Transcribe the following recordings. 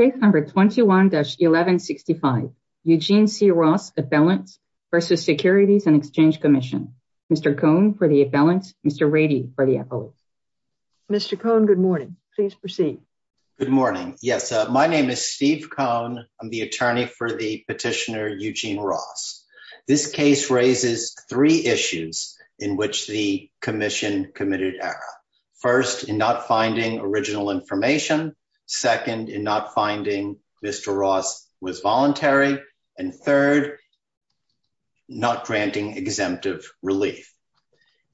Case number 21-1165, Eugene C. Ross, appellant versus Securities and Exchange Commission. Mr. Cohn for the appellant, Mr. Rady for the appellate. Mr. Cohn, good morning. Please proceed. Good morning. Yes, my name is Steve Cohn. I'm the attorney for the petitioner Eugene Ross. This case raises three issues in which the commission committed error. First, in not finding original information. Second, in not finding Mr. Ross was voluntary. And third, not granting exemptive relief.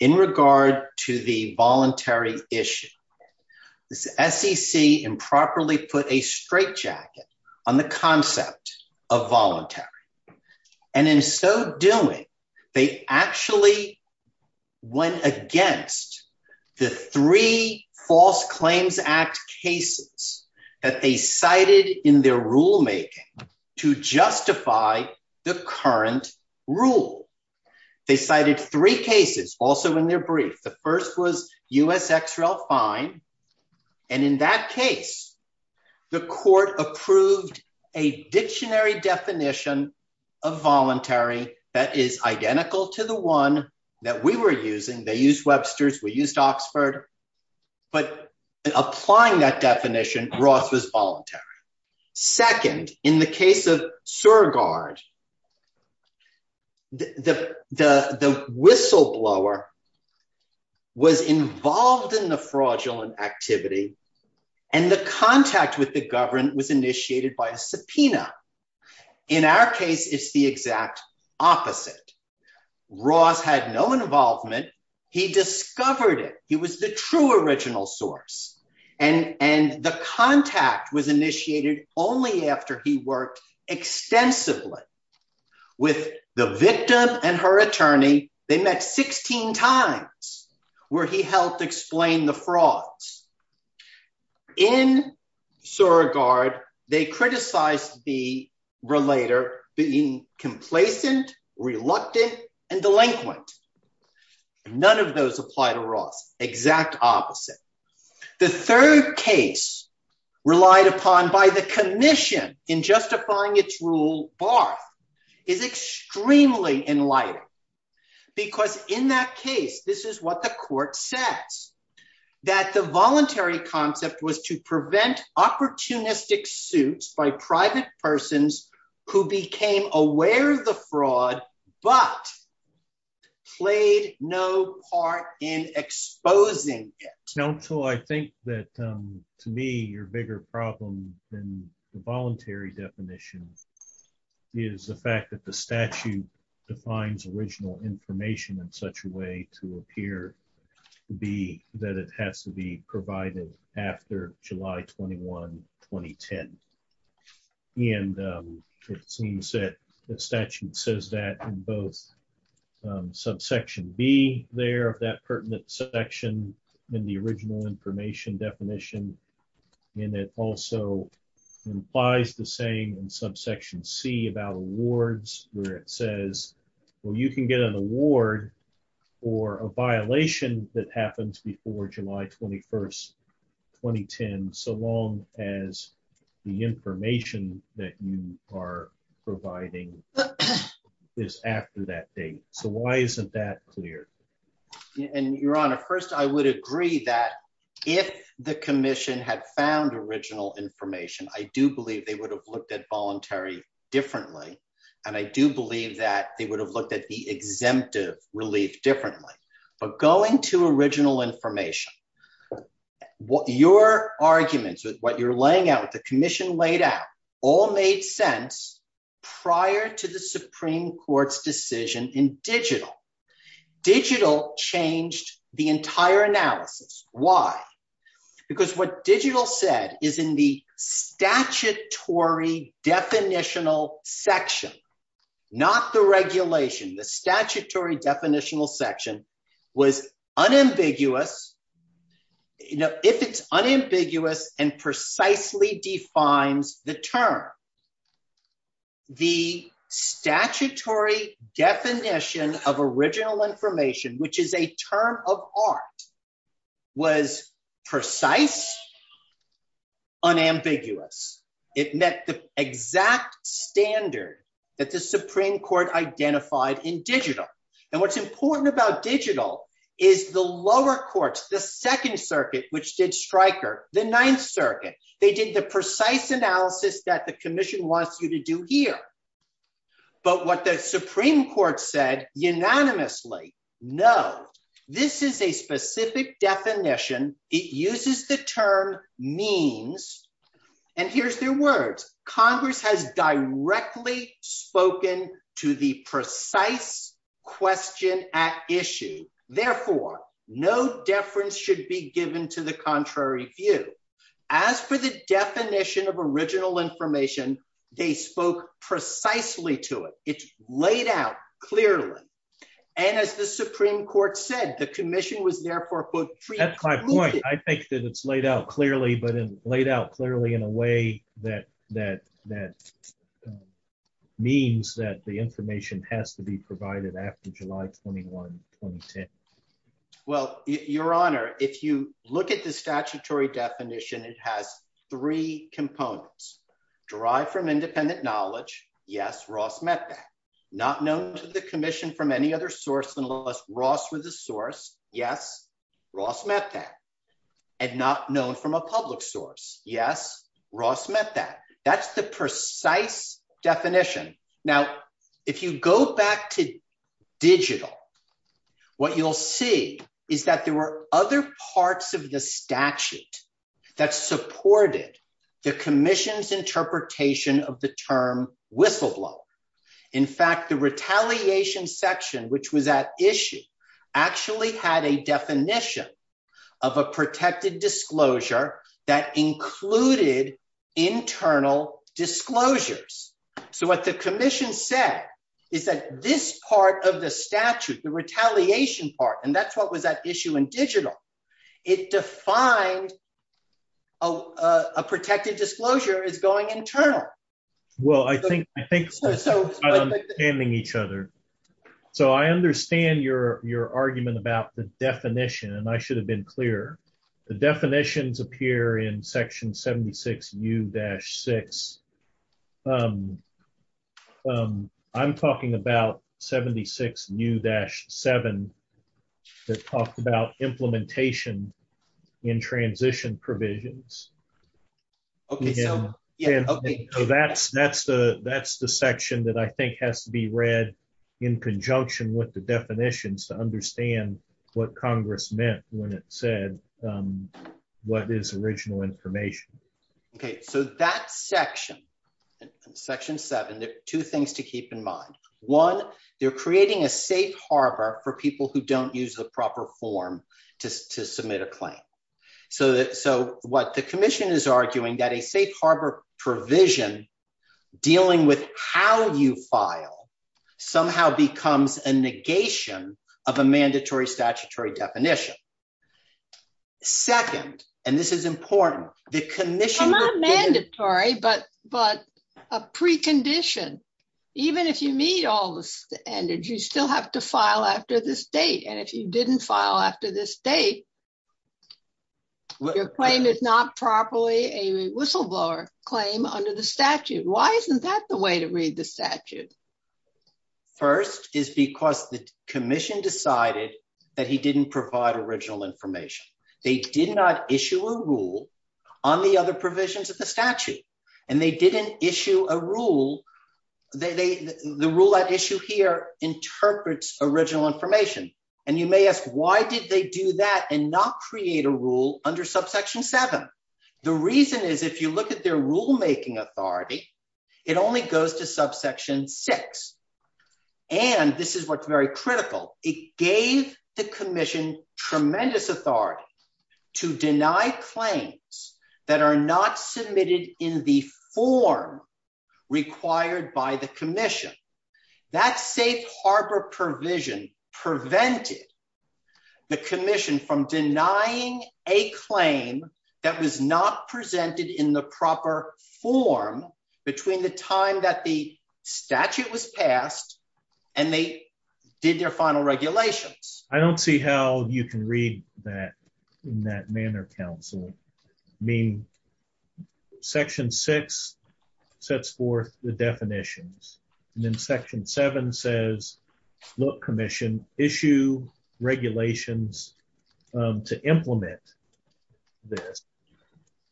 In regard to the voluntary issue, this SEC improperly put a straitjacket on the concept of voluntary. And in so doing, they actually went against the three False Claims Act cases that they cited in their rulemaking to justify the current rule. They cited three cases also in their brief. The first was U.S. identical to the one that we were using. They used Webster's, we used Oxford. But applying that definition, Ross was voluntary. Second, in the case of Surgard, the whistleblower was involved in the fraudulent activity, and the contact with the government was Ross had no involvement. He discovered it. He was the true original source. And the contact was initiated only after he worked extensively with the victim and her attorney. They met 16 times where he helped explain the frauds. In Surgard, they criticized the delinquent. None of those apply to Ross. Exact opposite. The third case relied upon by the commission in justifying its rule, Barth, is extremely enlightening. Because in that case, this is what the court says. That the voluntary concept was to prevent opportunistic suits by but played no part in exposing it. Now, Phil, I think that to me, your bigger problem than the voluntary definition is the fact that the statute defines original information in such a way to appear to be that it has to be provided after July 21, 2010. And it seems that the statute says that in both subsection B there of that pertinent section in the original information definition, and it also implies the same in subsection C about awards where it says, well, you can get an award for a violation that happens before July 21, 2010, so long as the information that you are providing is after that date. So why isn't that clear? And your honor, first, I would agree that if the commission had found original information, I do believe they would have looked at voluntary differently. And I do believe that they would have looked at the exemptive relief differently. But going to original information, your arguments with what you're laying out, the commission laid out, all made sense prior to the Supreme Court's decision in digital. Digital changed the entire analysis. Why? Because what the statutory definitional section was unambiguous, if it's unambiguous and precisely defines the term, the statutory definition of original information, which is a term of art, was precise, unambiguous. It met the exact standard that the commission identified in digital. And what's important about digital is the lower courts, the Second Circuit, which did Stryker, the Ninth Circuit, they did the precise analysis that the commission wants you to do here. But what the Supreme Court said unanimously, no, this is a precise question at issue. Therefore, no deference should be given to the contrary view. As for the definition of original information, they spoke precisely to it. It's laid out clearly. And as the Supreme Court said, the commission was therefore, quote, I think that it's laid out clearly, but laid out clearly in a way that means that the information has to be provided after July 21, 2010. Well, Your Honor, if you look at the statutory definition, it has three components. Derived from independent knowledge. Yes, Ross met that. Not known to the commission from any other source unless Ross was the source. Yes, Ross met that. And not known from a public source. Yes, Ross met that. That's the precise definition. Now, if you go back to digital, what you'll see is that there were other parts of the statute that supported the commission's interpretation of the term whistleblower. In fact, the retaliation section, which was at issue, actually had a definition of a protected disclosure that included internal disclosures. So what the commission said is that this part of the statute, the retaliation part, and that's what was at issue in digital, it defined a protected disclosure as going internal. Well, I think, I think so. So I'm understanding each other. So I understand your argument about the definition, and I should have been clear. The definitions appear in section 76U-6. I'm talking about 76U-7 that talked about implementation in transition provisions. Okay. So that's, that's the, that's the section that I think has to be what is original information. Okay. So that section, section seven, there are two things to keep in mind. One, they're creating a safe harbor for people who don't use the proper form to, to submit a claim. So that, so what the commission is arguing that a safe harbor provision dealing with how you file somehow becomes a negation of a mandatory statutory definition. Second, and this is important, the commission... Well, not mandatory, but, but a precondition. Even if you meet all the standards, you still have to file after this date. And if you didn't file after this date, your claim is not properly a whistleblower claim under the statute. Why isn't that the way to read the statute? First is because the commission didn't provide original information. They did not issue a rule on the other provisions of the statute, and they didn't issue a rule. They, they, the rule at issue here interprets original information. And you may ask, why did they do that and not create a rule under subsection seven? The reason is if you look at their rulemaking authority, it only goes to subsection six. And this is what's very critical. It gave the commission tremendous authority to deny claims that are not submitted in the form required by the commission. That safe harbor provision prevented the commission from denying a claim that was not presented in the proper form between the time that the statute was passed and they did their final regulations. I don't see how you can read that in that manner, counsel. I mean, section six sets forth the definitions, and then section seven says, look, commission issue regulations to implement this.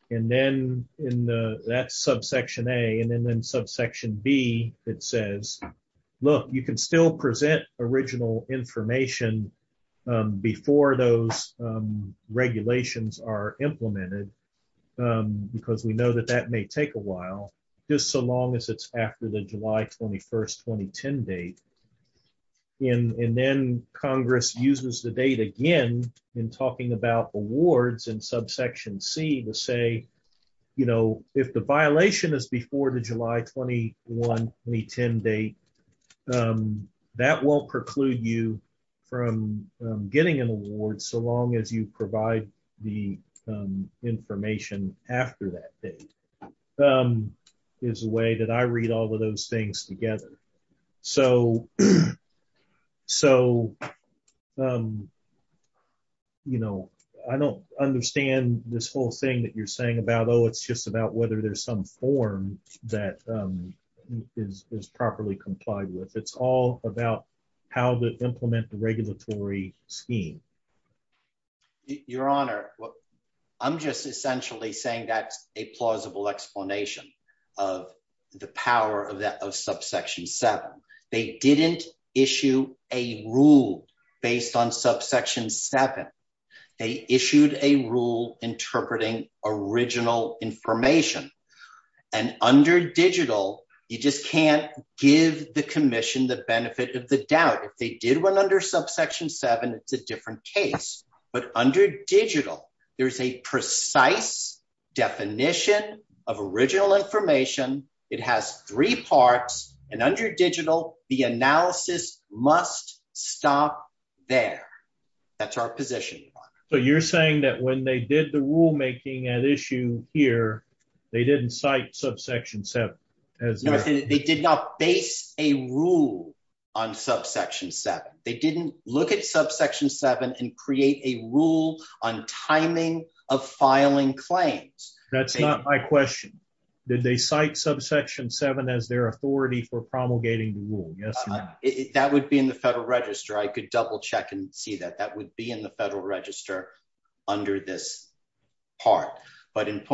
And then in the, that's subsection A, and then in subsection B, it says, look, you can still present original information before those regulations are implemented, because we know that that may take a while, just so long as it's after the July 21st, 2010 date. And, and then Congress uses the date again in talking about awards in subsection C to say, you know, if the violation is before the July 21, 2010 date, that won't preclude you from getting an award so long as you provide the information after that date, is a way that I read all of those things together. So, so, you know, I don't understand this whole thing that you're saying about, oh, it's just about whether there's some form that is properly complied with. It's all about how to implement the regulatory scheme. Your Honor, I'm just essentially saying that's a plausible explanation of the power of that, of subsection seven. They didn't issue a rule based on subsection seven. They issued a rule interpreting original information. And under digital, you just can't give the commission the benefit of the doubt. If they did one under subsection seven, it's a different case, but under digital, there's a precise definition of original information. It has three parts and under digital, the analysis must stop there. That's our position. So you're saying that when they did the rulemaking at issue here, they didn't cite subsection seven. They did not base a rule on subsection seven. They didn't look at subsection seven and create a rule on timing of filing claims. That's not my question. Did they cite subsection seven as their authority for promulgating the rule? That would be in the federal register. I could double check and see that that would be in the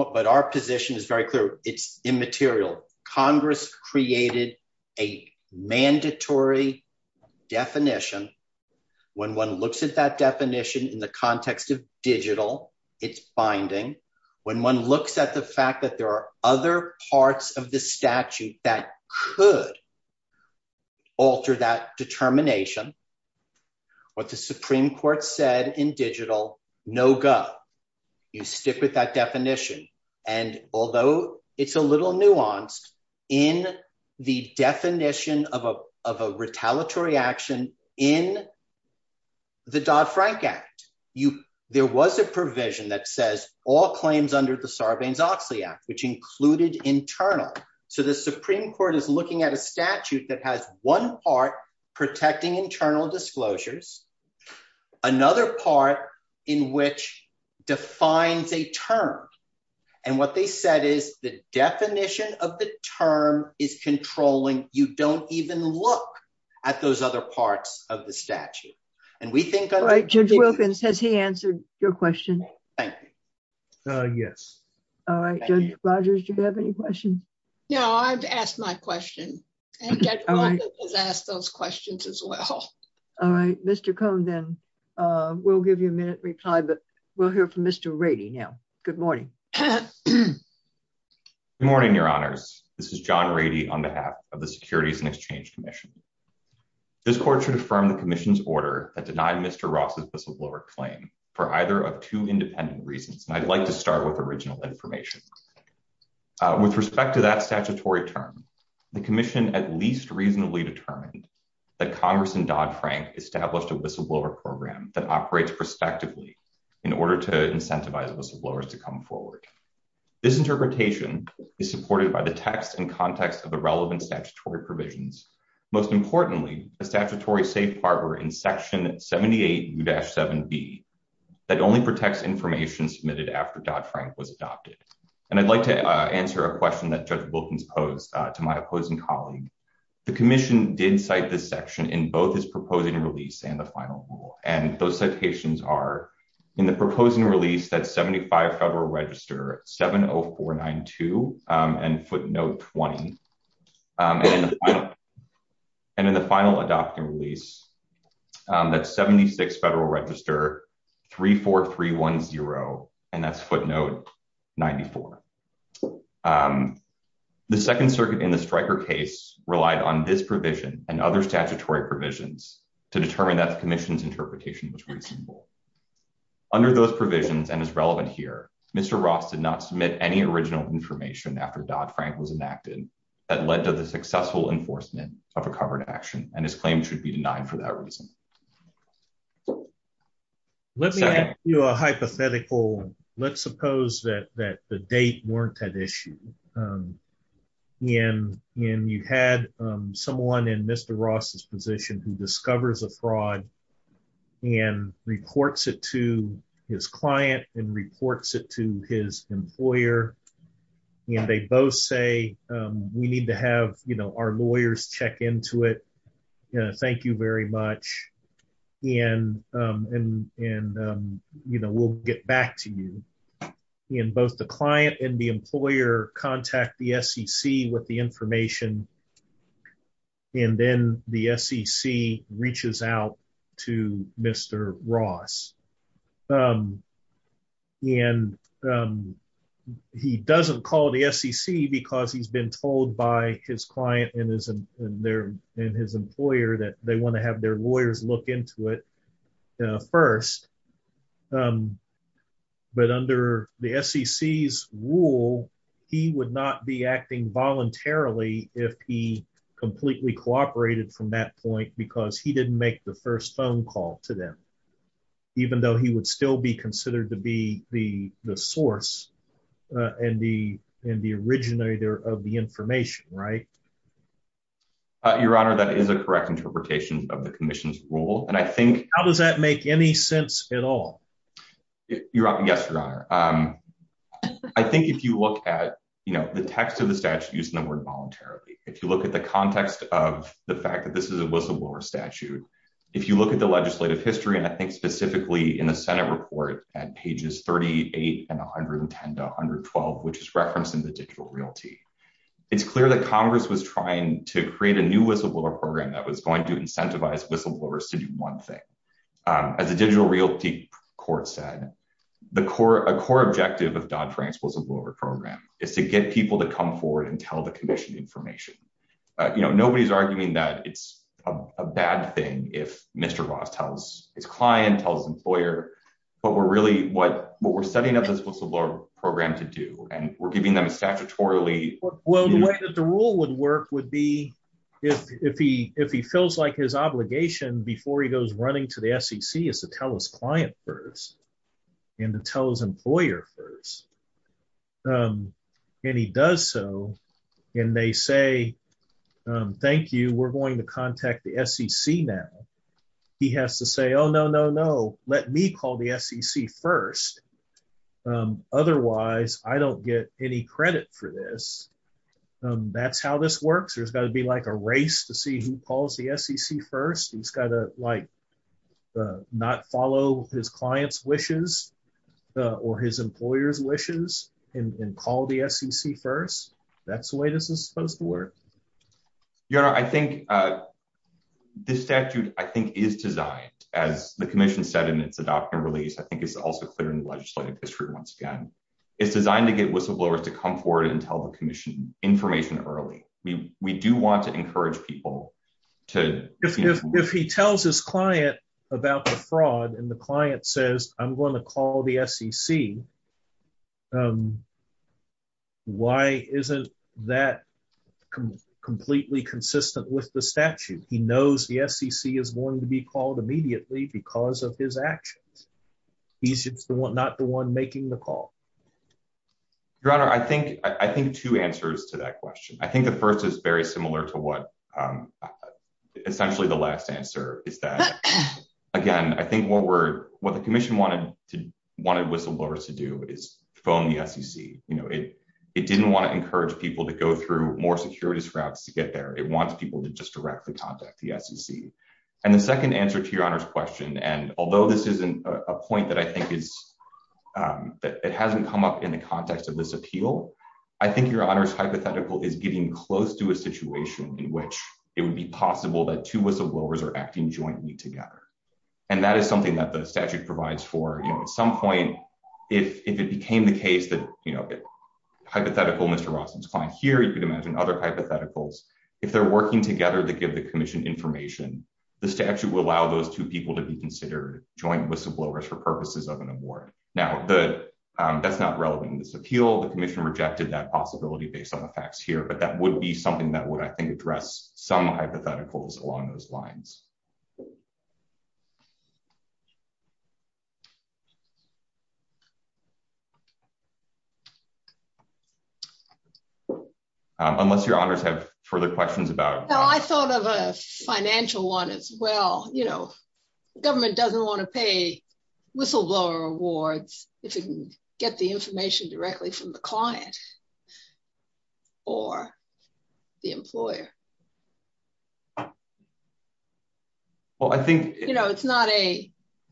but our position is very clear. It's immaterial. Congress created a mandatory definition. When one looks at that definition in the context of digital, it's binding. When one looks at the fact that there are other parts of the statute that could alter that determination, what the Supreme Court said in digital, no go. You stick with that definition. And although it's a little nuanced in the definition of a retaliatory action in the Dodd-Frank Act, there was a provision that says all claims under the Sarbanes-Oxley Act, which included internal. So the Supreme Court is looking at a statute that has one part protecting internal disclosures, another part in which defines a term. And what they said is the definition of the term is controlling. You don't even look at those other parts of the statute. And we think- Judge Wilkins, has he answered your question? Thank you. Yes. All right. Judge Rogers, do you have any questions? No, I've asked my question. And Judge Rogers has asked those questions as well. All right. Mr. Cohn, then we'll give you a minute to reply, but we'll hear from Mr. Rady now. Good morning. Good morning, Your Honors. This is John Rady on behalf of the Securities and Exchange Commission. This court should affirm the commission's order that denied Mr. Ross's whistleblower claim for either of two independent reasons. And I'd like to start with original information. With respect to that statutory term, the commission at least reasonably determined that Congress and Dodd-Frank established a whistleblower program that operates prospectively in order to incentivize whistleblowers to come forward. This interpretation is supported by the text and context of the relevant statutory provisions. Most importantly, a statutory safe partner in Section 78U-7B that only protects information submitted after Dodd-Frank was convicted. And I'd like to answer a question that Judge Wilkins posed to my opposing colleague. The commission did cite this section in both its proposing release and the final rule. And those citations are in the proposing release, that's 75 Federal Register 70492 and footnote 20. And in the final adopting release, that's 76 Federal Register 34310 and that's footnote 94. The Second Circuit in the Stryker case relied on this provision and other statutory provisions to determine that the commission's interpretation was reasonable. Under those provisions and is relevant here, Mr. Ross did not submit any original information after Dodd-Frank was enacted that led to the successful enforcement of a covered action and his claim should be denied for that reason. Let me ask you a hypothetical. Let's suppose that the date weren't at issue and you had someone in Mr. Ross's position who discovers a fraud and reports it to his client and reports it to his employer and they both say we need to have our lawyers check into it. Thank you very much. And we'll get back to you. And both the client and the employer contact the SEC with the information and then the SEC reaches out to Mr. Ross. And he doesn't call the SEC because he's been told by his client and his employer that they want to have their lawyers look into it first. But under the SEC's rule, he would not be acting voluntarily if he completely cooperated from that point because he didn't make the first call to them, even though he would still be considered to be the source and the originator of the information, right? Your Honor, that is a correct interpretation of the commission's rule. How does that make any sense at all? Yes, Your Honor. I think if you look at the text of the statute used in the word voluntarily, if you look at the context of the fact that this was a war statute, if you look at the legislative history, and I think specifically in the Senate report at pages 38 and 110 to 112, which is referenced in the digital realty, it's clear that Congress was trying to create a new whistleblower program that was going to incentivize whistleblowers to do one thing. As a digital realty court said, a core objective of Dodd-Frank's whistleblower program is to get people to come forward and tell the commission information. Nobody's arguing that it's a bad thing if Mr. Ross tells his client, tells his employer, but we're really, what we're setting up this whistleblower program to do, and we're giving them a statutorily... Well, the way that the rule would work would be if he feels like his obligation before he goes running to the SEC is to tell his client first and to tell his employer first, and he does so, and they say, thank you, we're going to contact the SEC now. He has to say, oh, no, no, no, let me call the SEC first. Otherwise, I don't get any credit for this. That's how this works. There's got to be like a race to see who calls the SEC first. He's got to not follow his client's wishes or his employer's wishes. I think this statute, I think, is designed, as the commission said in its adoption release, I think it's also clear in the legislative history once again. It's designed to get whistleblowers to come forward and tell the commission information early. We do want to encourage people to... If he tells his client about the fraud and the client says, I'm going to call the SEC, why isn't that completely consistent with the statute? He knows the SEC is going to be called immediately because of his actions. He's not the one making the call. Your Honor, I think two answers to that question. I think the first is very similar to what essentially the last answer is that, again, I think what the commission wanted whistleblowers to do is phone the SEC. It didn't want to encourage people to go through more securities routes to get there. It wants people to just directly contact the SEC. The second answer to Your Honor's question, and although this isn't a point that I think it hasn't come up in the context of this appeal, I think Your Honor's hypothetical is getting close to a situation in which it would be possible that two whistleblowers are acting jointly together. That is something that the statute provides for. At some point, if it became the case that hypothetical Mr. Rawson's client here, you could imagine other hypotheticals. If they're working together to give the commission information, the statute will allow those two people to be considered joint whistleblowers for purposes of an award. Now, that's not relevant in this appeal. The commission rejected that possibility based on the facts here, but that would be something that would address some hypotheticals along those lines. Unless Your Honors have further questions about- Well, I thought of a financial one as well. The government doesn't want to pay a lawyer. It's not a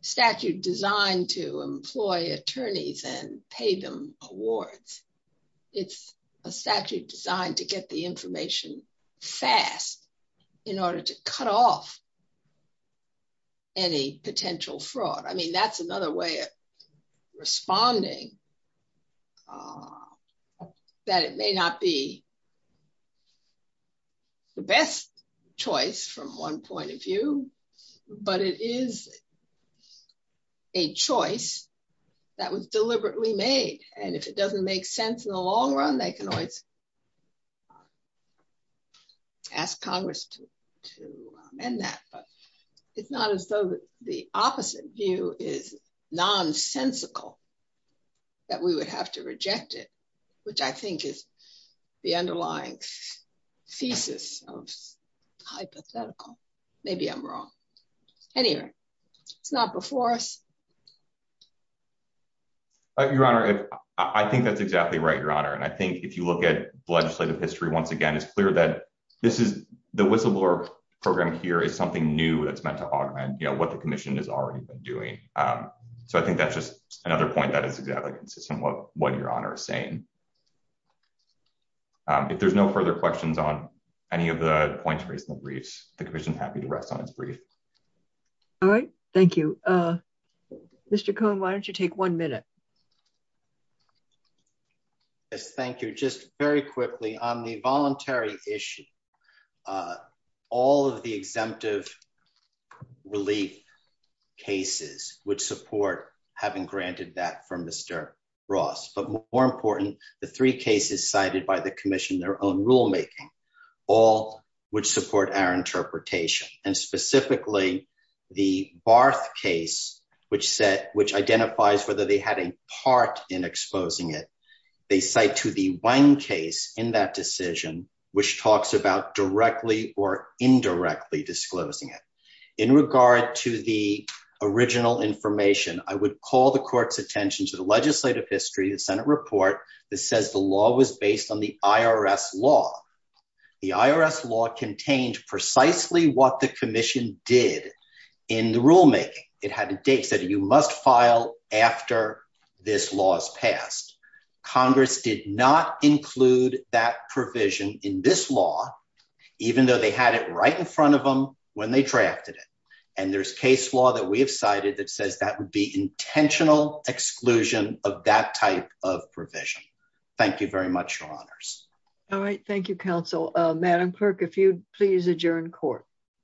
statute designed to employ attorneys and pay them awards. It's a statute designed to get the information fast in order to cut off any potential fraud. That's another way of responding that it may not be the best choice from one point of view, but it is a choice that was deliberately made. If it doesn't make sense in the long run, they can always ask Congress to amend that, but it's not as though the opposite view is nonsensical that we would have to reject it, which I think is the underlying thesis of hypothetical. Maybe I'm wrong. Anyway, it's not before us. Your Honor, I think that's exactly right, Your Honor. I think if you look at legislative history once again, it's clear that the whistleblower program here is something new that's meant to augment what the commission has already been doing. I think that's just another point that is exactly consistent with what Your Honor is saying. If there's no further questions on any of the points raised in the briefs, the commission is happy to rest on its brief. All right. Thank you. Mr. Cohn, why don't you take one minute? Yes, thank you. Just very quickly on the voluntary issue, all of the exemptive relief cases would support having granted that from Mr. Ross, but more important, the three cases cited by the commission, their own rulemaking, all would support our interpretation and specifically the Barth case, which identifies whether they had a part in exposing it. They cite to the one case in that decision, which talks about directly or indirectly disclosing it. In regard to the original information, I would call the court's attention to the legislative history, the Senate report that says the law was based on the IRS law. The IRS law contained precisely what the commission did in the rulemaking. It had a date that you must file after this law is passed. Congress did not include that provision in this law, even though they had it right in front of them when they drafted it. And there's case law that we have cited that says that would be intentional exclusion of that type of provision. Thank you very much, Your Honors. All right. Thank you, Counsel. Madam Clerk, if you'd please adjourn court.